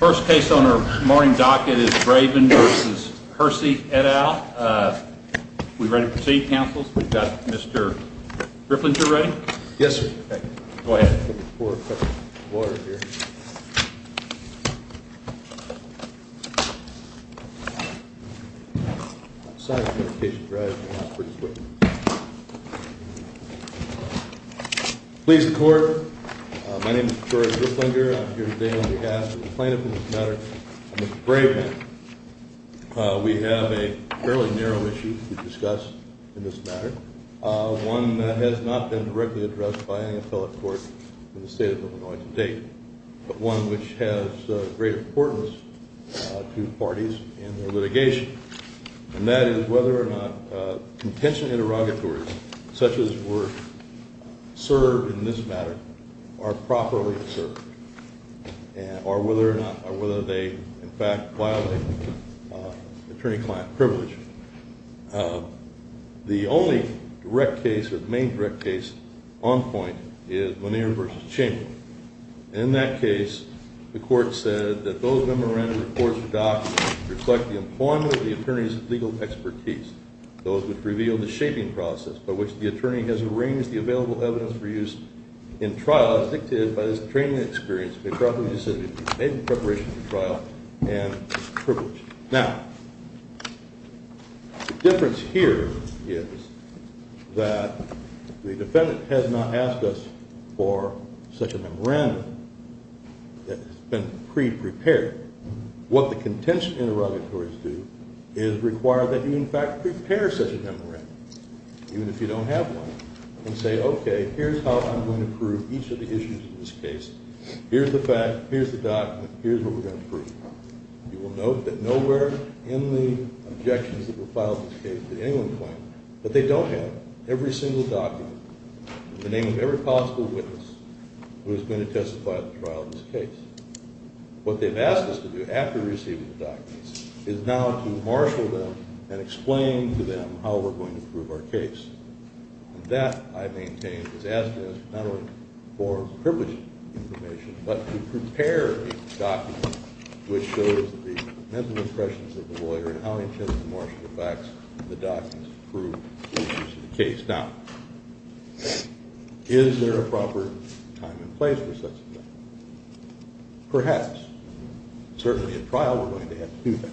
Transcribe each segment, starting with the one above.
First case on our morning docket is Braven v. Hursey, et al. We ready to proceed, counsels? We've got Mr. Grifflinger ready? Yes, sir. Go ahead. I'm going to pour a cup of water here. Please, the court. My name is George Grifflinger. I'm here today on behalf of the plaintiff in this matter, Mr. Braven. We have a fairly narrow issue to discuss in this matter, one that has not been directly addressed by any appellate court in the state of Illinois to date, but one which has great importance to parties in their litigation, and that is whether or not contention interrogatories, such as were served in this matter, are properly served, or whether or not, or whether they, in fact, violate attorney-client privilege. The only direct case or main direct case on point is Monnier v. Chamberlain. In that case, the court said that those memorandum reports or documents reflect the employment of the attorney's legal expertise, those which reveal the shaping process by which the attorney has arranged the available evidence for use in trial as dictated by his training and experience, and the appropriate decision to be made in preparation for trial and privilege. Now, the difference here is that the defendant has not asked us for such a memorandum that has been pre-prepared. What the contention interrogatories do is require that you, in fact, prepare such a memorandum, even if you don't have one, and say, OK, here's how I'm going to prove each of the issues in this case. Here's the fact. Here's the document. Here's what we're going to prove. You will note that nowhere in the objections that were filed in this case did anyone claim that they don't have every single document in the name of every possible witness who has been to testify at the trial in this case. What they've asked us to do, after receiving the documents, is now to marshal them and explain to them how we're going to prove our case. And that, I maintain, is asking us not only for privileged information, but to prepare a document which shows the present impressions of the lawyer and how he intends to marshal the facts in the documents to prove the interests of the case. Now, is there a proper time and place for such a thing? Perhaps. Certainly at trial, we're going to have to do that.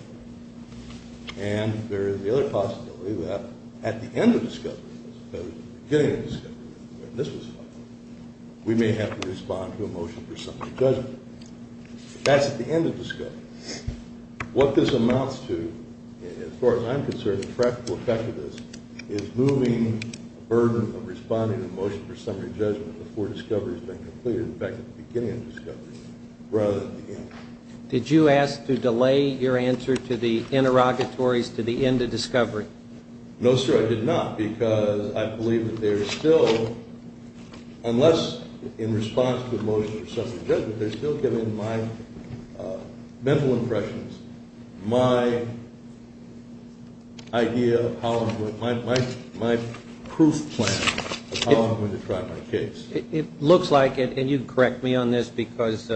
And there is the other possibility that at the end of discovery, as opposed to the beginning of discovery, when this was filed, we may have to respond to a motion for some judgment. That's at the end of discovery. What this amounts to, as far as I'm concerned, the practical effect of this, is moving the burden of responding to a motion for summary judgment before discovery has been completed, back at the beginning of discovery, rather than at the end. Did you ask to delay your answer to the interrogatories to the end of discovery? No, sir, I did not, because I believe that they are still, unless in response to a motion for summary judgment, they're still giving my mental impressions, my idea of how I'm going to, my proof plan of how I'm going to try my case. It looks like it, and you can correct me on this, because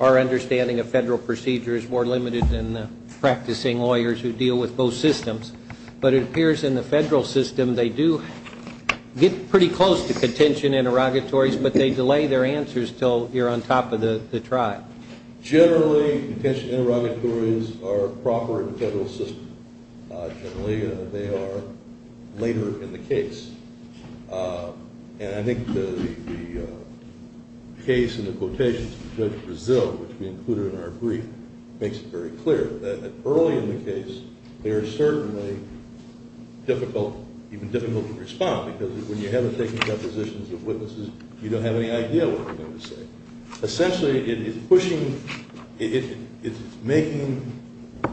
our understanding of federal procedure is more limited than the practicing lawyers who deal with both systems. But it appears in the federal system, they do get pretty close to contention in interrogatories, but they delay their answers until you're on top of the tribe. Generally, contention interrogatories are proper in the federal system. Generally, they are later in the case. And I think the case in the quotations, Judge Brazil, which we included in our brief, makes it very clear that early in the case, they are certainly difficult, even difficult to respond, because when you haven't taken depositions of witnesses, you don't have any idea what they're going to say. Essentially, it is pushing, it's making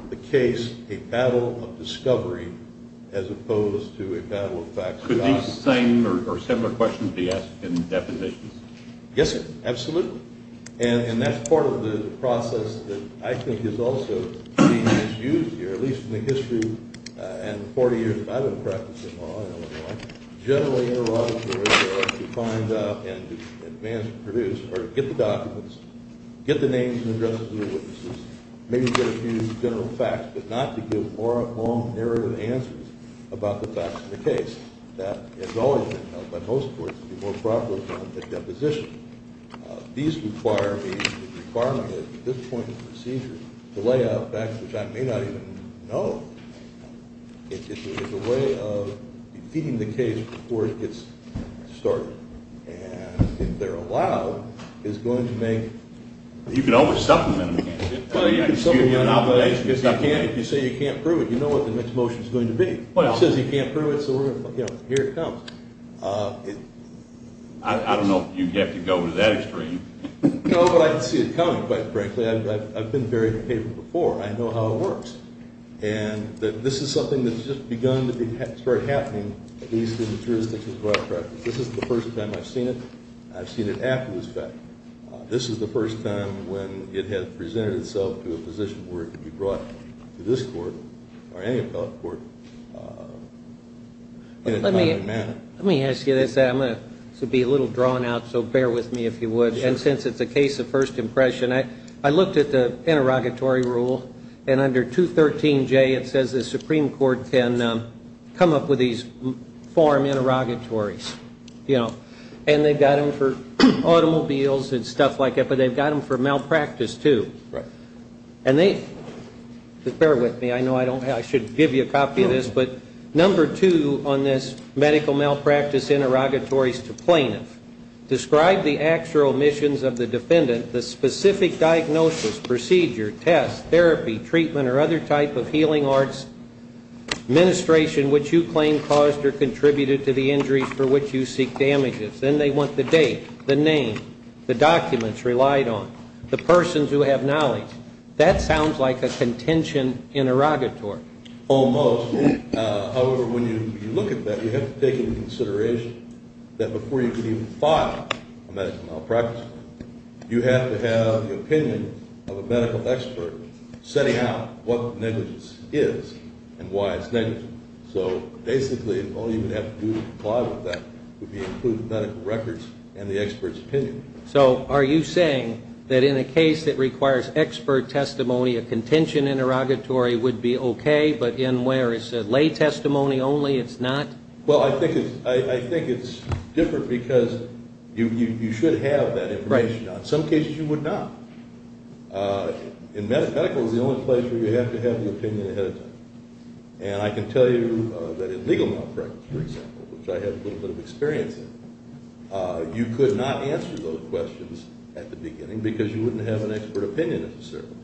the case a battle of discovery as opposed to a battle of facts. Could these same or similar questions be asked in depositions? Yes, sir, absolutely. And that's part of the process that I think is also being misused here, at least in the history and 40 years that I've been practicing law in Illinois, generally interrogatories are to find out and to advance and produce, or to get the documents, get the names and addresses of the witnesses, maybe get a few general facts, but not to give long, narrow answers about the facts of the case. That has always been held by most courts to be more proper than a deposition. These require me, the requirement at this point in the procedure, to lay out facts which I may not even know. It's a way of defeating the case before it gets started. And if they're allowed, it's going to make— You can always supplement them. Well, yeah, you can supplement them, but if you say you can't prove it, you know what the next motion is going to be. It says you can't prove it, so here it comes. I don't know if you'd have to go to that extreme. No, but I can see it coming, quite frankly. I've been very capable before. I know how it works. And this is something that's just begun to start happening, at least in the jurisdictions where I practice. This is the first time I've seen it. I've seen it after this fact. This is the first time when it has presented itself to a position where it can be brought to this court, or any appellate court, in a timely manner. Let me ask you this. I'm going to be a little drawn out, so bear with me if you would. And since it's a case of first impression, I looked at the interrogatory rule, and under 213J it says the Supreme Court can come up with these form interrogatories, you know. And they've got them for automobiles and stuff like that, but they've got them for malpractice, too. Right. Bear with me. I know I should give you a copy of this. But number two on this medical malpractice interrogatory is to plaintiff. Describe the actual missions of the defendant, the specific diagnosis, procedure, test, therapy, treatment, or other type of healing arts, ministration which you claim caused or contributed to the injury for which you seek damages. Then they want the date, the name, the documents relied on, the persons who have knowledge. That sounds like a contention interrogatory. Almost. However, when you look at that, you have to take into consideration that before you can even file a medical malpractice, you have to have the opinion of a medical expert setting out what negligence is and why it's negligent. So basically, all you would have to do to comply with that would be include the medical records and the expert's opinion. So are you saying that in a case that requires expert testimony, a contention interrogatory would be okay, but in where it's a lay testimony only, it's not? Well, I think it's different because you should have that information. In some cases, you would not. And medical is the only place where you have to have the opinion ahead of time. And I can tell you that in legal malpractice, for example, which I have a little bit of experience in, you could not answer those questions at the beginning because you wouldn't have an expert opinion necessarily.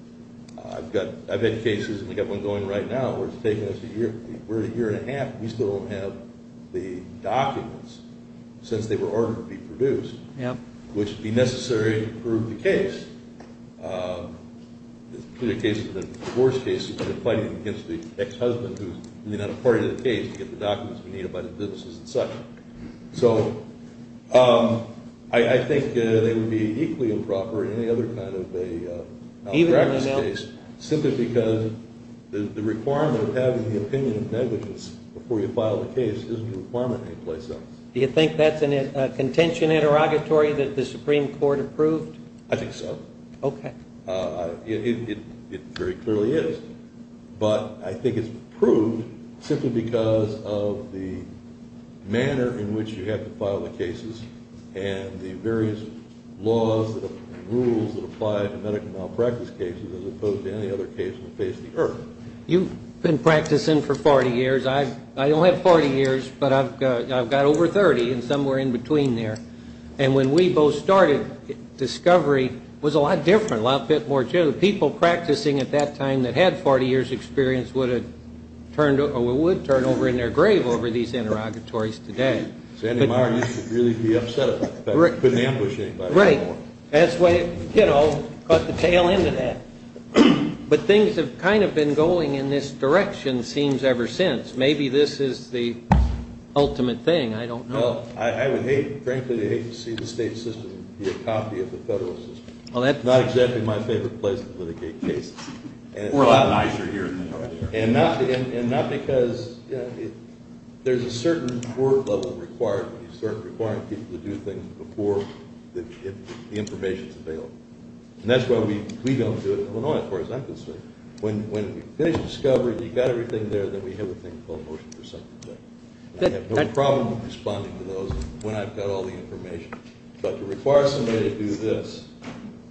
I've had cases, and we've got one going right now where it's taken us a year and a half, and we still don't have the documents since they were ordered to be produced, which would be necessary to prove the case. The worst case would be fighting against the ex-husband who's not a party to the case to get the documents we need about the businesses and such. So I think they would be equally improper in any other kind of a malpractice case, simply because the requirement of having the opinion of negligence before you file the case isn't a requirement any place else. Do you think that's a contention interrogatory that the Supreme Court approved? I think so. Okay. It very clearly is. But I think it's approved simply because of the manner in which you have to file the cases and the various laws and rules that apply to medical malpractice cases as opposed to any other case that faced the earth. You've been practicing for 40 years. I don't have 40 years, but I've got over 30 and somewhere in between there. And when we both started, discovery was a lot different, a lot bit more general. People practicing at that time that had 40 years' experience would have turned over or would turn over in their grave over these interrogatories today. Sandy Meier used to really be upset about that. Couldn't ambush anybody. Right. That's why, you know, caught the tail end of that. But things have kind of been going in this direction, it seems, ever since. Maybe this is the ultimate thing. I don't know. Well, I would hate, frankly, to hate to see the state system be a copy of the federal system. Not exactly my favorite place to litigate cases. We're a lot nicer here than over there. And not because there's a certain court level required when you start requiring people to do things before the information is available. And that's why we don't do it in Illinois, as far as I'm concerned. When we finish discovery, you've got everything there, then we have a thing called motion for subject matter. I have no problem responding to those when I've got all the information. But to require somebody to do this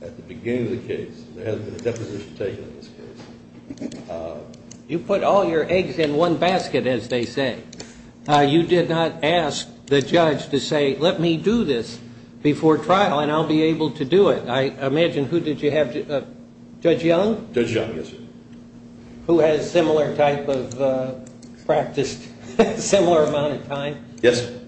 at the beginning of the case, there hasn't been a deposition taken in this case. You put all your eggs in one basket, as they say. You did not ask the judge to say, let me do this before trial and I'll be able to do it. I imagine who did you have? Judge Young? Judge Young, yes, sir. Who has similar type of practice, similar amount of time? Yes, sir.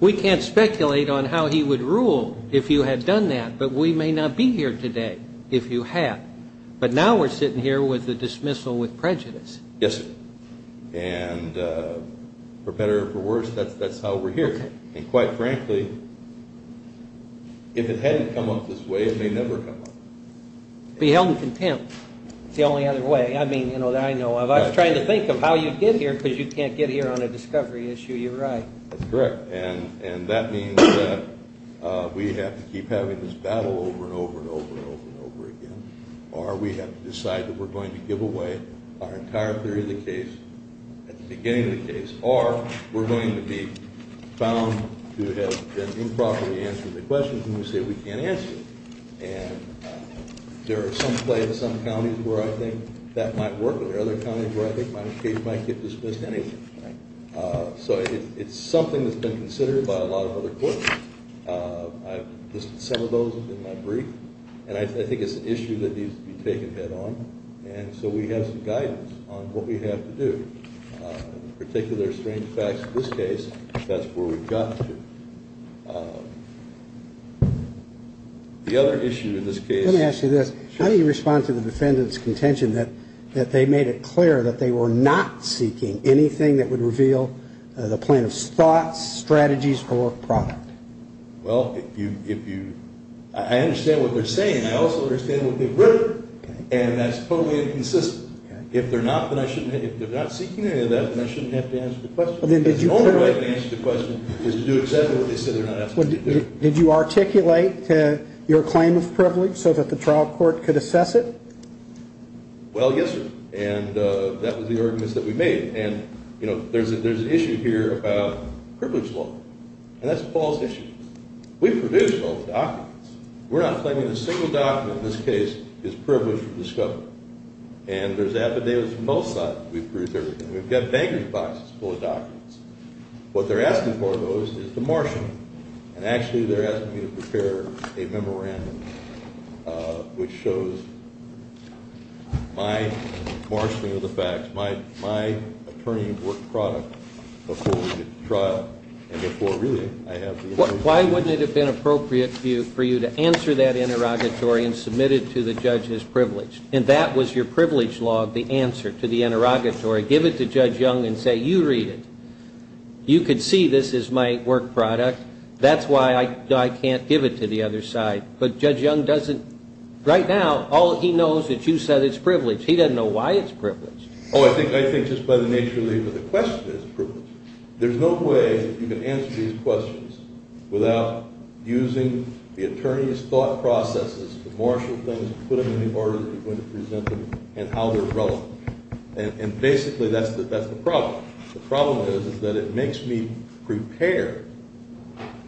We can't speculate on how he would rule if you had done that, but we may not be here today if you had. But now we're sitting here with a dismissal with prejudice. Yes, sir. And for better or for worse, that's how we're here. And quite frankly, if it hadn't come up this way, it may never have come up. Be held in contempt is the only other way that I know of. I was trying to think of how you'd get here because you can't get here on a discovery issue. You're right. That's correct. And that means that we have to keep having this battle over and over and over and over again, or we have to decide that we're going to give away our entire theory of the case at the beginning of the case, or we're going to be found to have been improperly answering the questions when we say we can't answer them. And there are some places, some counties where I think that might work, and there are other counties where I think my case might get dismissed anyway. Right. So it's something that's been considered by a lot of other courts. I've listed some of those in my brief, and I think it's an issue that needs to be taken head on. And so we have some guidance on what we have to do. In particular, strange facts in this case, that's where we've gotten to. The other issue in this case. Let me ask you this. Sure. How do you respond to the defendant's contention that they made it clear that they were not seeking anything that would reveal the plaintiff's thoughts, strategies, or product? Well, I understand what they're saying. I also understand what they've written. And that's totally inconsistent. If they're not seeking any of that, then I shouldn't have to answer the question. The only way I can answer the question is to do exactly what they said they're not asking me to do. Did you articulate your claim of privilege so that the trial court could assess it? Well, yes, sir. And that was the argument that we made. And, you know, there's an issue here about privilege law. And that's Paul's issue. We produce all the documents. We're not claiming that a single document in this case is privileged or discovered. And there's affidavits on both sides. We produce everything. We've got baggage boxes full of documents. What they're asking for, though, is to marshal them. And, actually, they're asking me to prepare a memorandum which shows my marshaling of the facts, my attorney-at-work product before we get to trial, and before, really, I have the authority. Why wouldn't it have been appropriate for you to answer that interrogatory and submit it to the judge as privileged? And that was your privilege law, the answer to the interrogatory. Give it to Judge Young and say, you read it. You could see this as my work product. That's why I can't give it to the other side. But Judge Young doesn't right now, all he knows that you said it's privileged. He doesn't know why it's privileged. Oh, I think just by the nature of the question it's privileged. There's no way that you can answer these questions without using the attorney's thought processes to marshal things, put them in the order that you're going to present them, and how they're relevant. And, basically, that's the problem. The problem is that it makes me prepare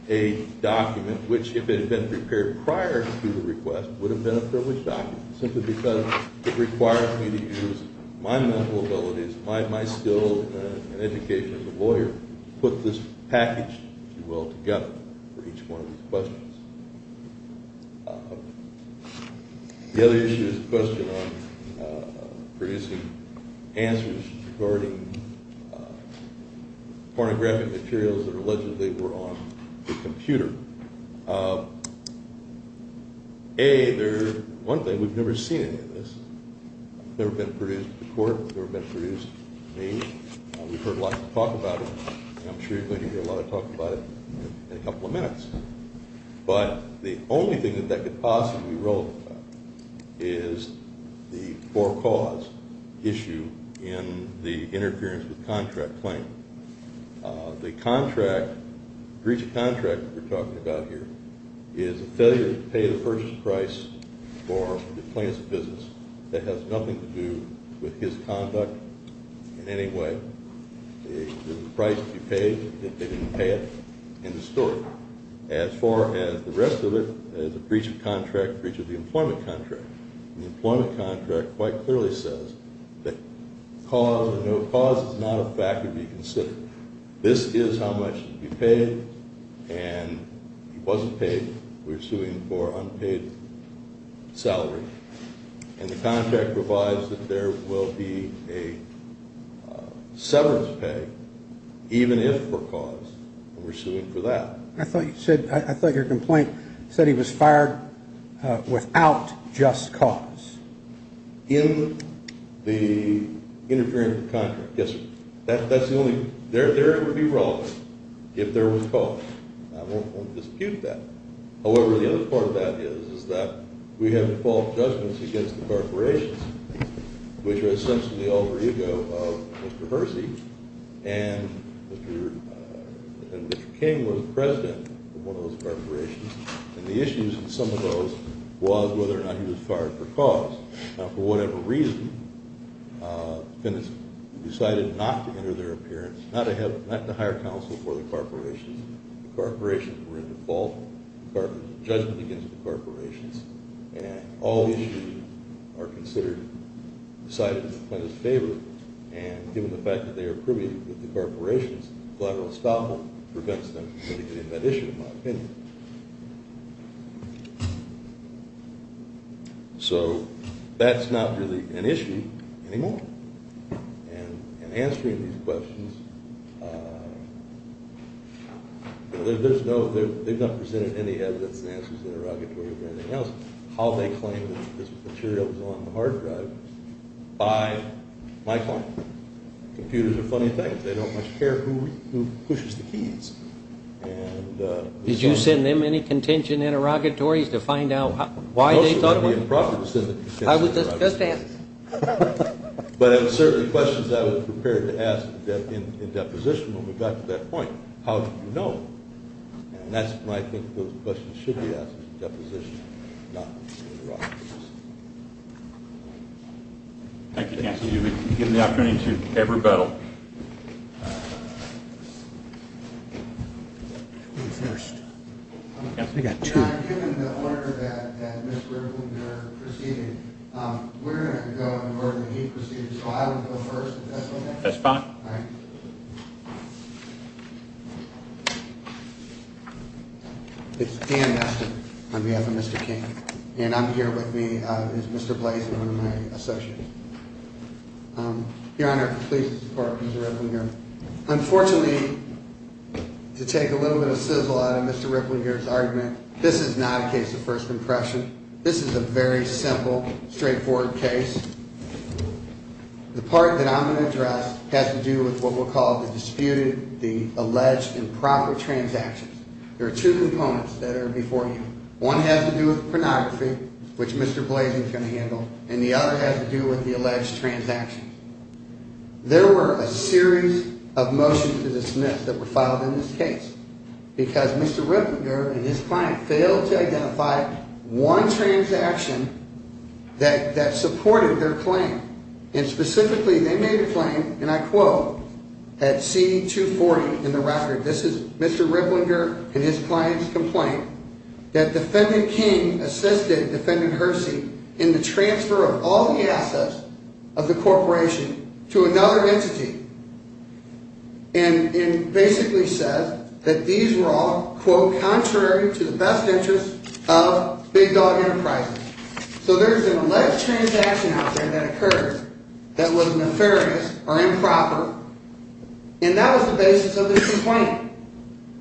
a document which, if it had been prepared prior to the request, would have been a privileged document simply because it requires me to use my mental abilities, my skill and education as a lawyer, to put this package, if you will, together for each one of these questions. The other issue is the question on producing answers regarding pornographic materials that allegedly were on the computer. A, one thing, we've never seen any of this. It's never been produced to court. It's never been produced to me. We've heard a lot of talk about it, and I'm sure you're going to hear a lot of talk about it in a couple of minutes. But the only thing that that could possibly be wrong about it is the for-cause issue in the interference with contract claim. The contract, breach of contract that we're talking about here, is a failure to pay the purchase price for the plaintiff's business that has nothing to do with his conduct in any way. There's a price to be paid if they didn't pay it in the story. As far as the rest of it, there's a breach of contract, breach of the employment contract. The employment contract quite clearly says that cause or no cause is not a fact to be considered. This is how much to be paid, and if it wasn't paid, we're suing for unpaid salary. And the contract provides that there will be a severance pay, even if for cause, and we're suing for that. I thought you said, I thought your complaint said he was fired without just cause. In the interference with contract, yes, sir. That's the only – there it would be wrong if there was cause. I won't dispute that. However, the other part of that is, is that we have default judgments against the corporations, which are essentially the alter ego of Mr. Hersey, and Mr. King was the president of one of those corporations. And the issues in some of those was whether or not he was fired for cause. Now, for whatever reason, defendants decided not to enter their appearance, not to have – not to hire counsel for the corporations. The corporations were in default, the judgements against the corporations, and all issues are considered – decided in the defendant's favor. And given the fact that they are privy to the corporations, collateral estoppel prevents them from getting into that issue, in my opinion. So that's not really an issue anymore. And in answering these questions, there's no – they've not presented any evidence and answers interrogatory or anything else, how they claim that this material was on the hard drive by my client. Computers are funny things. Did you send them any contention interrogatories to find out why they thought it was – It would also be improper to send a contention interrogatory. Just answer. But it was certainly questions I was prepared to ask in deposition when we got to that point. How did you know? And that's why I think those questions should be asked in deposition, not interrogatories. Thank you, counsel. You've been given the opportunity to give rebuttal. Who's first? I've got two. Given the order that Mr. Bloomberg proceeded, we're going to go in the order that he proceeded. So I will go first, if that's okay? That's fine. All right. It's Dan Nestor, on behalf of Mr. King. And I'm here with me is Mr. Blazin, one of my associates. Your Honor, please support Mr. Ripplinger. Unfortunately, to take a little bit of sizzle out of Mr. Ripplinger's argument, this is not a case of first impression. This is a very simple, straightforward case. The part that I'm going to address has to do with what we'll call the disputed, the alleged improper transactions. There are two components that are before you. One has to do with pornography, which Mr. Blazin is going to handle, and the other has to do with the alleged transactions. There were a series of motions to dismiss that were filed in this case because Mr. Ripplinger and his client failed to identify one transaction that supported their claim. And specifically, they made a claim, and I quote, at C-240 in the record. This is Mr. Ripplinger and his client's complaint, that Defendant King assisted Defendant Hersey in the transfer of all the assets of the corporation to another entity. And basically says that these were all, quote, contrary to the best interests of Big Dog Enterprises. So there's an alleged transaction out there that occurred that was nefarious or improper. And that was the basis of this complaint.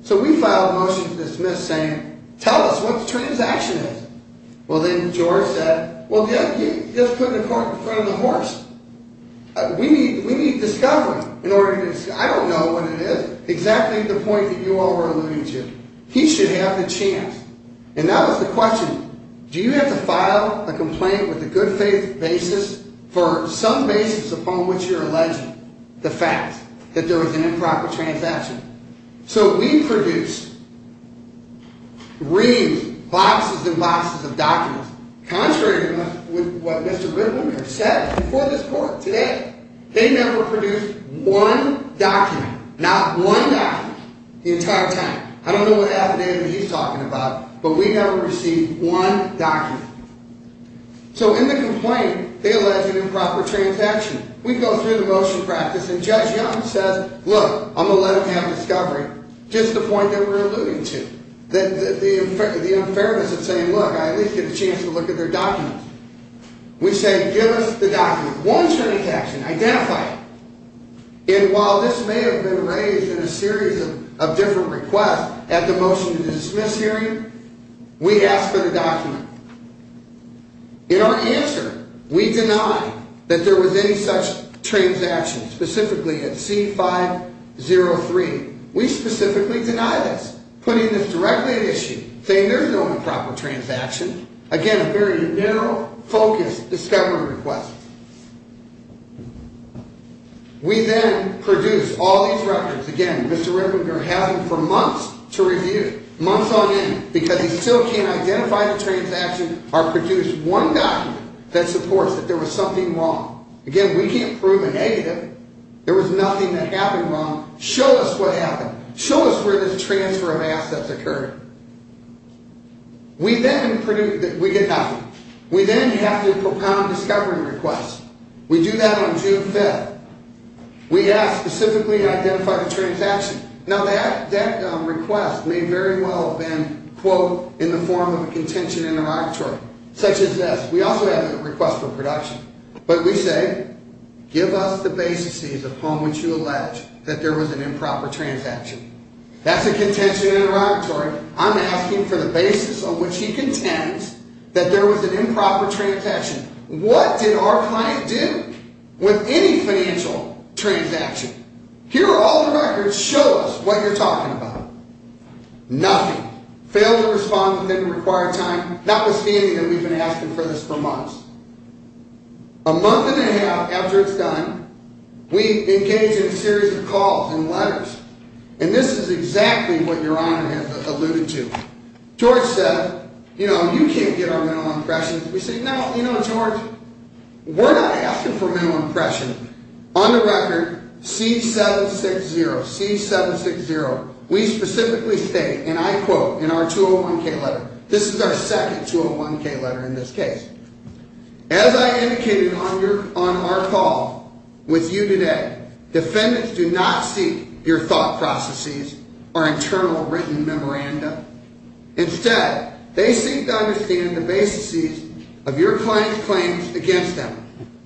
So we filed a motion to dismiss saying, tell us what the transaction is. Well, then George said, well, yeah, he just put it in front of the horse. We need discovery in order to, I don't know what it is, exactly the point that you all were alluding to. He should have the chance. And that was the question. Do you have to file a complaint with a good faith basis for some basis upon which you're alleging the fact that there was an improper transaction? So we produced reads, boxes and boxes of documents, contrary to what Mr. Ripplinger said before this court today. They never produced one document, not one document, the entire time. I don't know what affidavit he's talking about, but we never received one document. So in the complaint, they allege an improper transaction. We go through the motion practice and Judge Young says, look, I'm going to let them have discovery, just the point that we're alluding to. The unfairness of saying, look, I at least get a chance to look at their documents. We say, give us the document, one transaction, identify it. And while this may have been raised in a series of different requests at the motion to dismiss hearing, we asked for the document. In our answer, we deny that there was any such transaction, specifically at C-503. We specifically deny this, putting this directly at issue, saying there's no improper transaction. Again, a very narrow focus discovery request. We then produced all these records. Again, Mr. Ripplinger had them for months to review, months on end, because he still can't identify the transaction or produce one document that supports that there was something wrong. Again, we can't prove a negative. There was nothing that happened wrong. Show us what happened. Show us where this transfer of assets occurred. We then have to propound discovery requests. We do that on June 5th. We ask specifically to identify the transaction. Now, that request may very well have been, quote, in the form of a contention interrogatory, such as this. We also have a request for production. But we say, give us the basis upon which you allege that there was an improper transaction. That's a contention interrogatory. I'm asking for the basis on which he contends that there was an improper transaction. What did our client do with any financial transaction? Here are all the records. Show us what you're talking about. Nothing. Failed to respond within the required time, notwithstanding that we've been asking for this for months. A month and a half after it's done, we engage in a series of calls and letters. And this is exactly what Your Honor has alluded to. George said, you know, you can't get our mental impression. We say, no, you know, George, we're not asking for mental impression. On the record, C-760, C-760, we specifically state, and I quote in our 201-K letter, this is our second 201-K letter in this case. As I indicated on our call with you today, defendants do not seek your thought processes or internal written memoranda. Instead, they seek to understand the basis of your client's claims against them.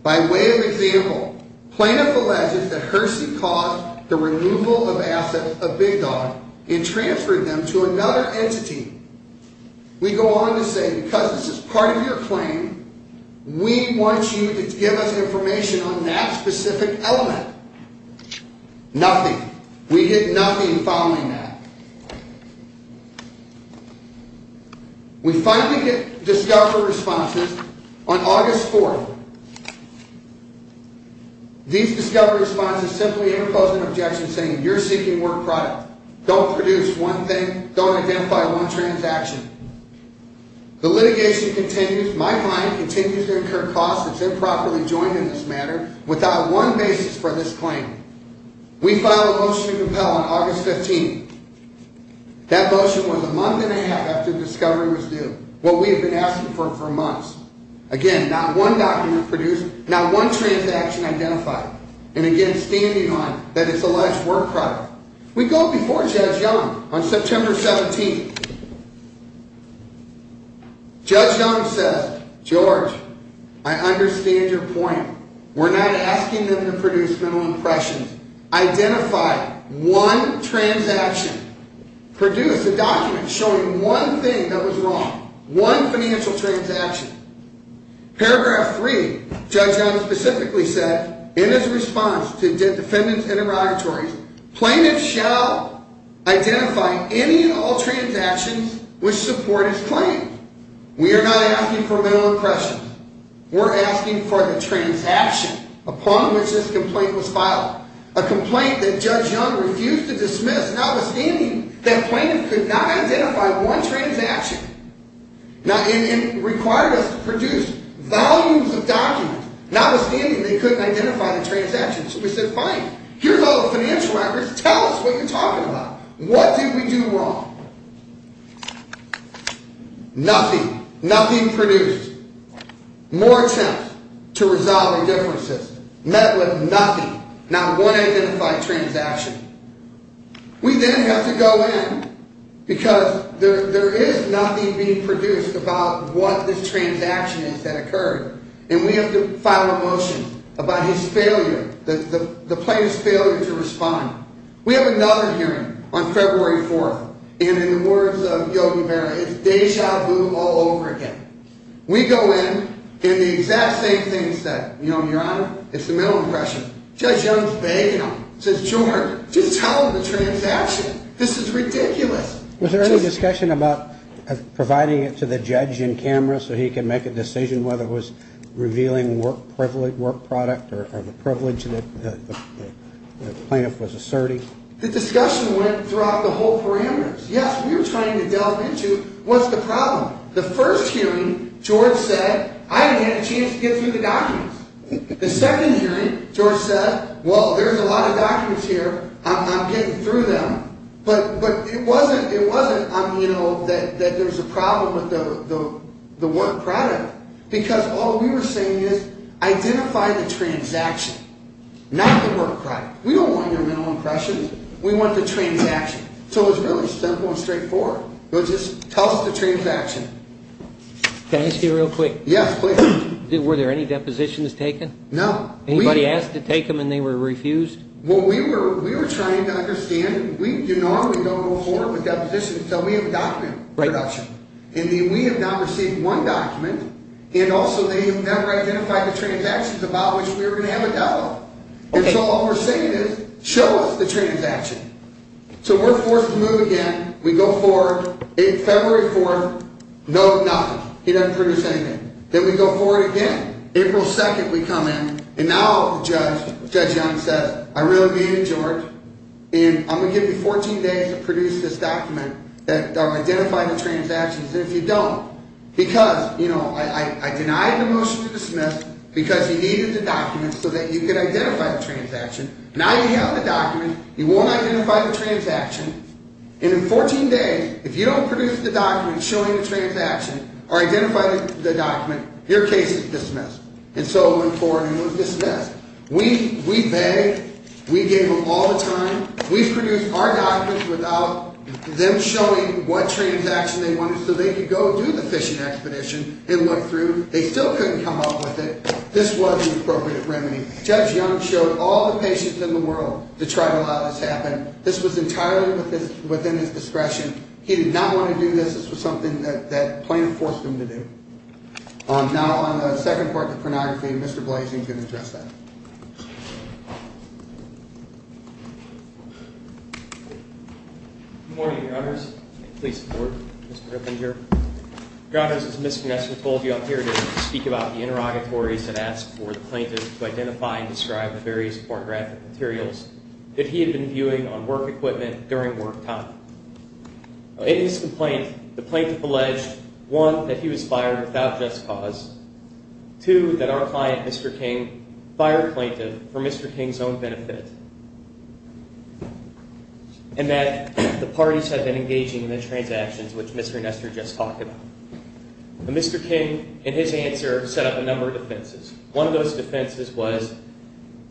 By way of example, plaintiff alleges that Hersey caused the removal of assets of Big Dog and transferred them to another entity. We go on to say, because this is part of your claim, we want you to give us information on that specific element. Nothing. We did nothing following that. We finally get discovery responses on August 4th. These discovery responses simply interpose an objection saying you're seeking work product. Don't produce one thing. Don't identify one transaction. The litigation continues. My client continues to incur costs if they're properly joined in this matter without one basis for this claim. We filed a motion to compel on August 15th. That motion was a month and a half after discovery was due, what we have been asking for for months. Again, not one document produced, not one transaction identified. And again, standing on that it's alleged work product. We go before Judge Young on September 17th. Judge Young says, George, I understand your point. We're not asking them to produce mental impressions. Identify one transaction. Produce a document showing one thing that was wrong. One financial transaction. Paragraph 3, Judge Young specifically said in his response to defendants interrogatories, plaintiffs shall identify any and all transactions which support his claim. We are not asking for mental impressions. We're asking for the transaction upon which this complaint was filed. A complaint that Judge Young refused to dismiss, notwithstanding that plaintiffs could not identify one transaction. Now, it required us to produce volumes of documents, notwithstanding they couldn't identify the transactions. So we said, fine, here's all the financial records. Tell us what you're talking about. What did we do wrong? Nothing. Nothing produced. More attempts to resolve indifferences. Met with nothing. Not one identified transaction. We then have to go in because there is nothing being produced about what this transaction is that occurred. And we have to file a motion about his failure, the plaintiff's failure to respond. We have another hearing on February 4th. And in the words of Yogi Berra, it's deja vu all over again. We go in and the exact same thing is said. You know, Your Honor, it's the mental impression. Judge Young's vague enough. Says, George, just tell them the transaction. This is ridiculous. Was there any discussion about providing it to the judge in camera so he could make a decision whether it was revealing work product or the privilege that the plaintiff was asserting? The discussion went throughout the whole parameters. Yes, we were trying to delve into what's the problem. The first hearing, George said, I haven't had a chance to get through the documents. The second hearing, George said, well, there's a lot of documents here. I'm getting through them. But it wasn't that there's a problem with the work product. Because all we were saying is identify the transaction, not the work product. We don't want your mental impression. We want the transaction. So it was really simple and straightforward. It was just tell us the transaction. Can I ask you real quick? Yes, please. Were there any depositions taken? No. Anybody asked to take them and they were refused? Well, we were trying to understand. We do normally go forward with depositions until we have document production. And we have now received one document. And also they have never identified the transactions about which we were going to have a doubt on. And so all we're saying is show us the transaction. So we're forced to move again. We go forward. February 4th, no, nothing. He doesn't produce anything. Then we go forward again. April 2nd, we come in. And now Judge Young says, I really mean it, George. And I'm going to give you 14 days to produce this document that identifies the transactions. And if you don't, because, you know, I denied the motion to dismiss because he needed the documents so that you could identify the transaction. Now you have the document. You won't identify the transaction. And in 14 days, if you don't produce the document showing the transaction or identify the document, your case is dismissed. And so it went forward and was dismissed. We begged. We gave them all the time. We produced our documents without them showing what transaction they wanted so they could go do the fishing expedition and look through. They still couldn't come up with it. This was the appropriate remedy. Judge Young showed all the patients in the world to try to allow this to happen. This was entirely within his discretion. He did not want to do this. This was something that the plaintiff forced him to do. Now on the second part of the pornography, Mr. Blasey can address that. Good morning, Your Honors. Please support Mr. Gryffindor. Your Honors, as Ms. Knessler told you, I'm here to speak about the interrogatories that asked for the plaintiff to identify and describe the various pornographic materials that he had been viewing on work equipment during work time. In his complaint, the plaintiff alleged, one, that he was fired without just cause, two, that our client, Mr. King, fired the plaintiff for Mr. King's own benefit, and that the parties had been engaging in the transactions which Mr. Knessler just talked about. Mr. King, in his answer, set up a number of defenses. One of those defenses was,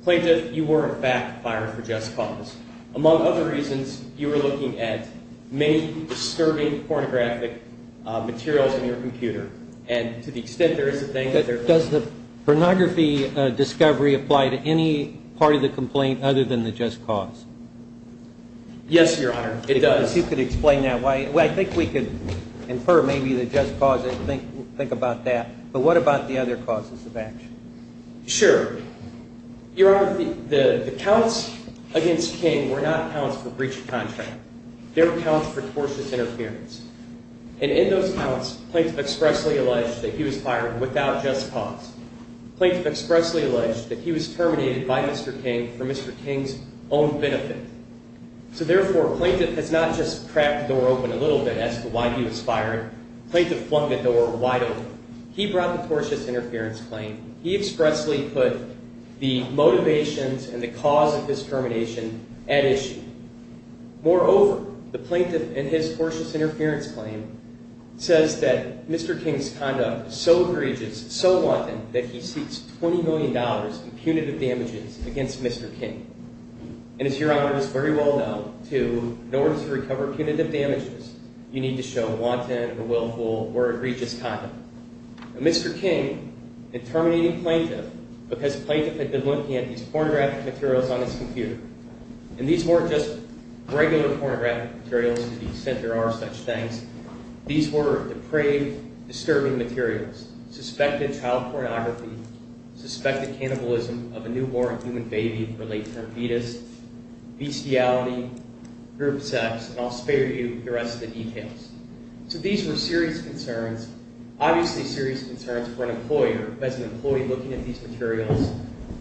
plaintiff, you were, in fact, fired for just cause. Among other reasons, you were looking at many disturbing pornographic materials in your computer. And to the extent there is a thing that there is a thing. Does the pornography discovery apply to any part of the complaint other than the just cause? Yes, Your Honor. It does. If you could explain that. I think we could infer maybe the just cause and think about that. But what about the other causes of action? Sure. Your Honor, the counts against King were not counts for breach of contract. They were counts for tortious interference. And in those counts, plaintiff expressly alleged that he was fired without just cause. Plaintiff expressly alleged that he was terminated by Mr. King for Mr. King's own benefit. So therefore, plaintiff has not just cracked the door open a little bit as to why he was fired. Plaintiff flung the door wide open. He brought the tortious interference claim. He expressly put the motivations and the cause of his termination at issue. Moreover, the plaintiff in his tortious interference claim says that Mr. King's conduct is so egregious, so wanton, that he seeks $20 million in punitive damages against Mr. King. And as Your Honor is very well known, too, in order to recover punitive damages, you need to show wanton or willful or egregious conduct. Mr. King had terminated plaintiff because plaintiff had been looking at these pornographic materials on his computer. And these weren't just regular pornographic materials to the extent there are such things. These were depraved, disturbing materials, suspected child pornography, suspected cannibalism of a newborn human baby or late-term fetus, bestiality, group sex, and I'll spare you the rest of the details. So these were serious concerns, obviously serious concerns for an employer who has an employee looking at these materials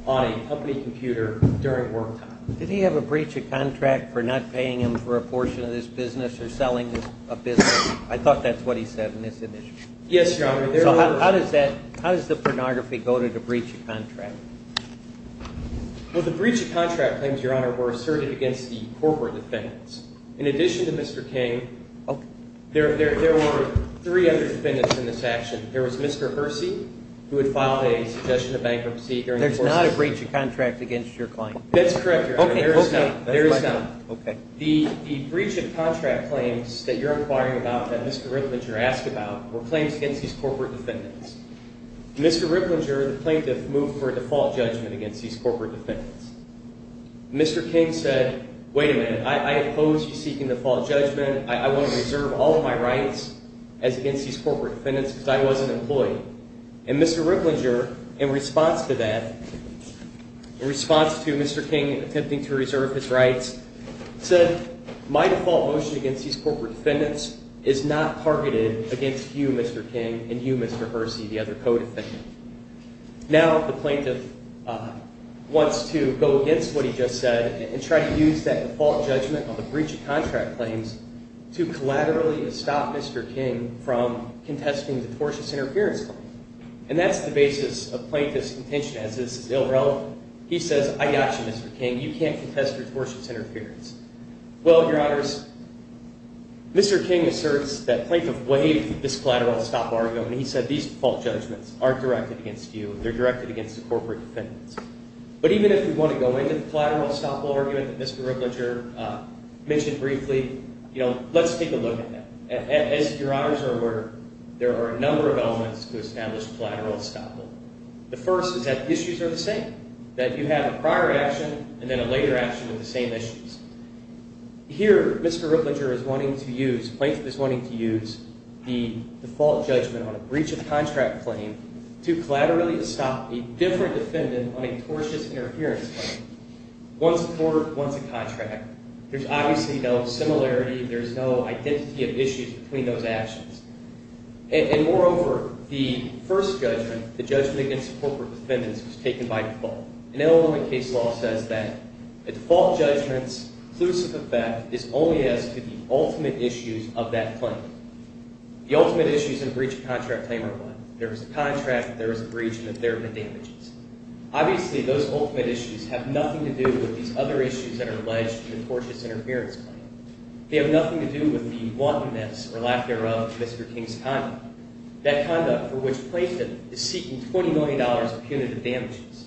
on a company computer during work time. Did he have a breach of contract for not paying him for a portion of this business or selling a business? I thought that's what he said in this initiative. Yes, Your Honor. So how does that, how does the pornography go to the breach of contract? Well, the breach of contract claims, Your Honor, were asserted against the corporate defendants. In addition to Mr. King, there were three other defendants in this action. There was Mr. Hersey who had filed a suggestion of bankruptcy. There's not a breach of contract against your client? That's correct, Your Honor. There is not. Okay. The breach of contract claims that you're inquiring about that Mr. Riplinger asked about were claims against these corporate defendants. Mr. Riplinger, the plaintiff, moved for a default judgment against these corporate defendants. Mr. King said, wait a minute, I oppose you seeking default judgment. I want to reserve all of my rights as against these corporate defendants because I was an employee. And Mr. Riplinger, in response to that, in response to Mr. King attempting to reserve his rights, said, my default motion against these corporate defendants is not targeted against you, Mr. King, and you, Mr. Hersey, the other co-defendant. Now the plaintiff wants to go against what he just said and try to use that default judgment on the breach of contract claims to collaterally stop Mr. King from contesting the tortious interference claim. And that's the basis of plaintiff's contention as this is irrelevant. He says, I got you, Mr. King. You can't contest your tortious interference. Well, Your Honors, Mr. King asserts that plaintiff waived this collateral stop argument. He said these default judgments aren't directed against you. They're directed against the corporate defendants. But even if we want to go into the collateral unstoppable argument that Mr. Riplinger mentioned briefly, let's take a look at that. As Your Honors are aware, there are a number of elements to establish collateral unstoppable. The first is that the issues are the same, that you have a prior action and then a later action with the same issues. Here, Mr. Riplinger is wanting to use, plaintiff is wanting to use the default judgment on a breach of contract claim to collaterally stop a different defendant on a tortious interference claim. One's a tort, one's a contract. There's obviously no similarity. There's no identity of issues between those actions. And moreover, the first judgment, the judgment against the corporate defendants, was taken by default. And Illinois case law says that a default judgment's conclusive effect is only as to the ultimate issues of that claim. The ultimate issues in a breach of contract claim are what? There is a contract, there is a breach, and there have been damages. Obviously, those ultimate issues have nothing to do with these other issues that are alleged in the tortious interference claim. They have nothing to do with the wantonness or lack thereof of Mr. King's conduct, that conduct for which plaintiff is seeking $20 million in punitive damages.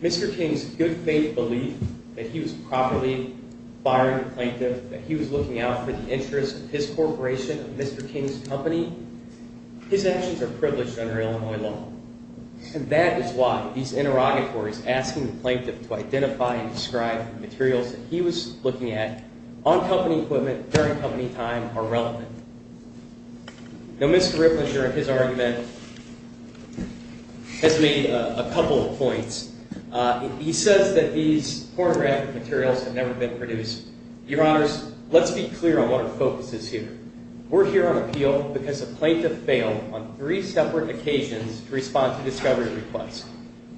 Mr. King's good faith belief that he was properly firing the plaintiff, that he was looking out for the interest of his corporation, of Mr. King's company, his actions are privileged under Illinois law. And that is why these interrogatories, asking the plaintiff to identify and describe the materials that he was looking at, on company equipment, during company time, are relevant. Now, Mr. Ritlinger, in his argument, has made a couple of points. He says that these pornographic materials have never been produced. Your Honors, let's be clear on what our focus is here. We're here on appeal because the plaintiff failed on three separate occasions to respond to discovery requests.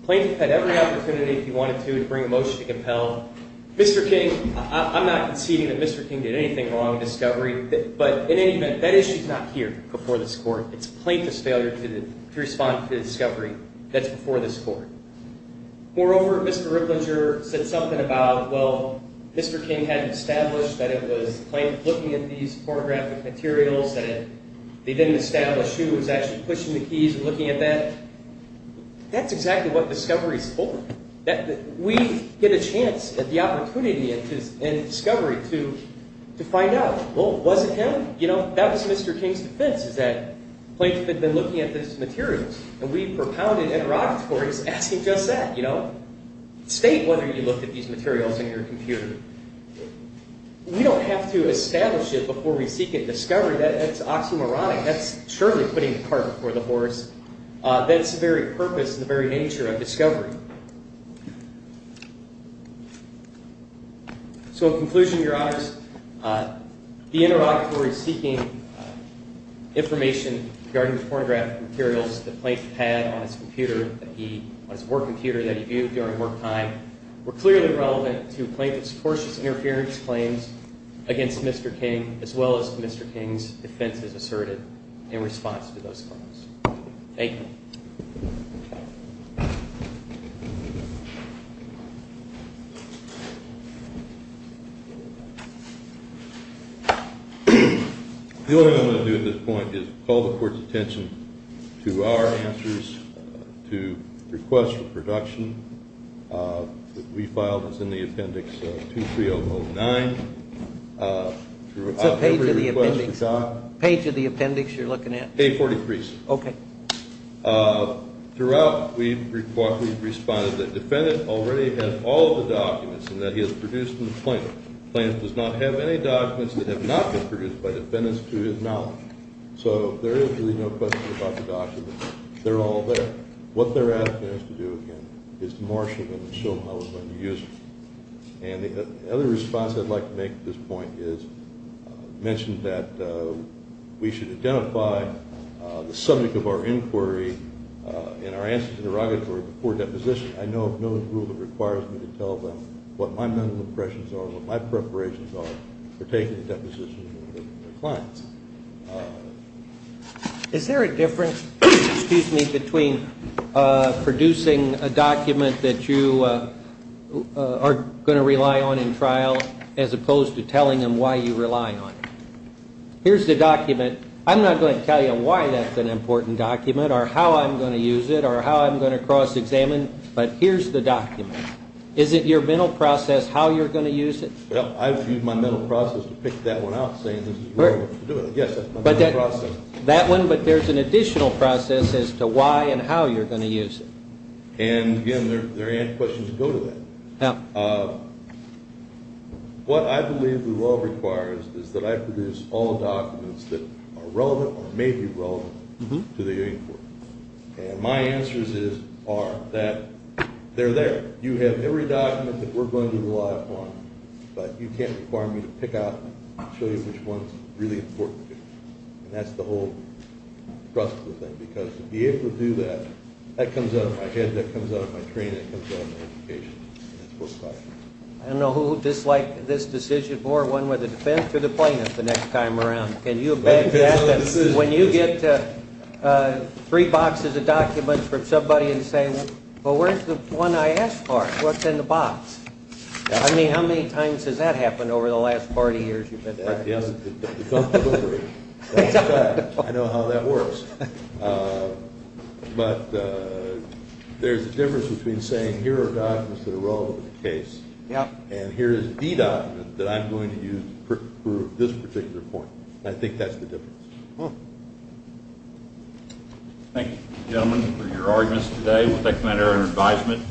The plaintiff had every opportunity, if he wanted to, to bring a motion to compel. Mr. King, I'm not conceding that Mr. King did anything wrong in discovery, but in any event, that issue is not here before this Court. It's the plaintiff's failure to respond to the discovery that's before this Court. Moreover, Mr. Ritlinger said something about, well, Mr. King had established that it was the plaintiff looking at these pornographic materials, that they didn't establish who was actually pushing the keys and looking at that. That's exactly what discovery is for. We get a chance at the opportunity in discovery to find out, well, was it him? You know, that was Mr. King's defense, is that the plaintiff had been looking at these materials, and we propounded interrogatories asking just that, you know? State whether you looked at these materials in your computer. We don't have to establish it before we seek it in discovery. That's oxymoronic. That's surely putting the cart before the horse. That's the very purpose and the very nature of discovery. So in conclusion, Your Honors, the interrogatories seeking information regarding the pornographic materials the plaintiff had on his computer, on his work computer that he viewed during work time, were clearly relevant to plaintiff's tortious interference claims against Mr. King as well as Mr. King's defenses asserted in response to those claims. Thank you. The only thing I'm going to do at this point is call the Court's attention to our answers to requests for production. We filed this in the appendix 23009. So page of the appendix you're looking at? Page 43. Okay. Throughout, we've responded that the defendant already has all of the documents and that he has produced them. The plaintiff does not have any documents that have not been produced by defendants to his knowledge. So there is really no question about the documents. They're all there. What they're asking us to do, again, is to marshal them and show them how we're going to use them. And the other response I'd like to make at this point is mention that we should identify the subject of our inquiry in our answers to the interrogatory before deposition. I know of no rule that requires me to tell them what my mental impressions are and what my preparations are for taking the deposition from their clients. Is there a difference, excuse me, between producing a document that you are going to rely on in trial as opposed to telling them why you rely on it? Here's the document. I'm not going to tell you why that's an important document or how I'm going to use it or how I'm going to cross-examine, but here's the document. Is it your mental process how you're going to use it? Well, I've used my mental process to pick that one out, saying this is the right way to do it. I guess that's my mental process. That one, but there's an additional process as to why and how you're going to use it. And, again, there are questions that go to that. What I believe the law requires is that I produce all documents that are relevant or may be relevant to the inquiry. And my answers are that they're there. You have every document that we're going to rely upon, but you can't require me to pick out and show you which one's really important to you. And that's the whole trustful thing, because to be able to do that, that comes out of my head, that comes out of my training, that comes out of my education. And that's what's required. I don't know who disliked this decision more, one with the defense or the plaintiff, the next time around. Can you imagine when you get three boxes of documents from somebody and say, Well, where's the one I asked for? What's in the box? I mean, how many times has that happened over the last 40 years you've been there? Yes, it's done before. I know how that works. But there's a difference between saying here are documents that are relevant to the case and here is the document that I'm going to use for this particular point. I think that's the difference. Thank you, gentlemen, for your arguments today. We'll take the matter under advisement.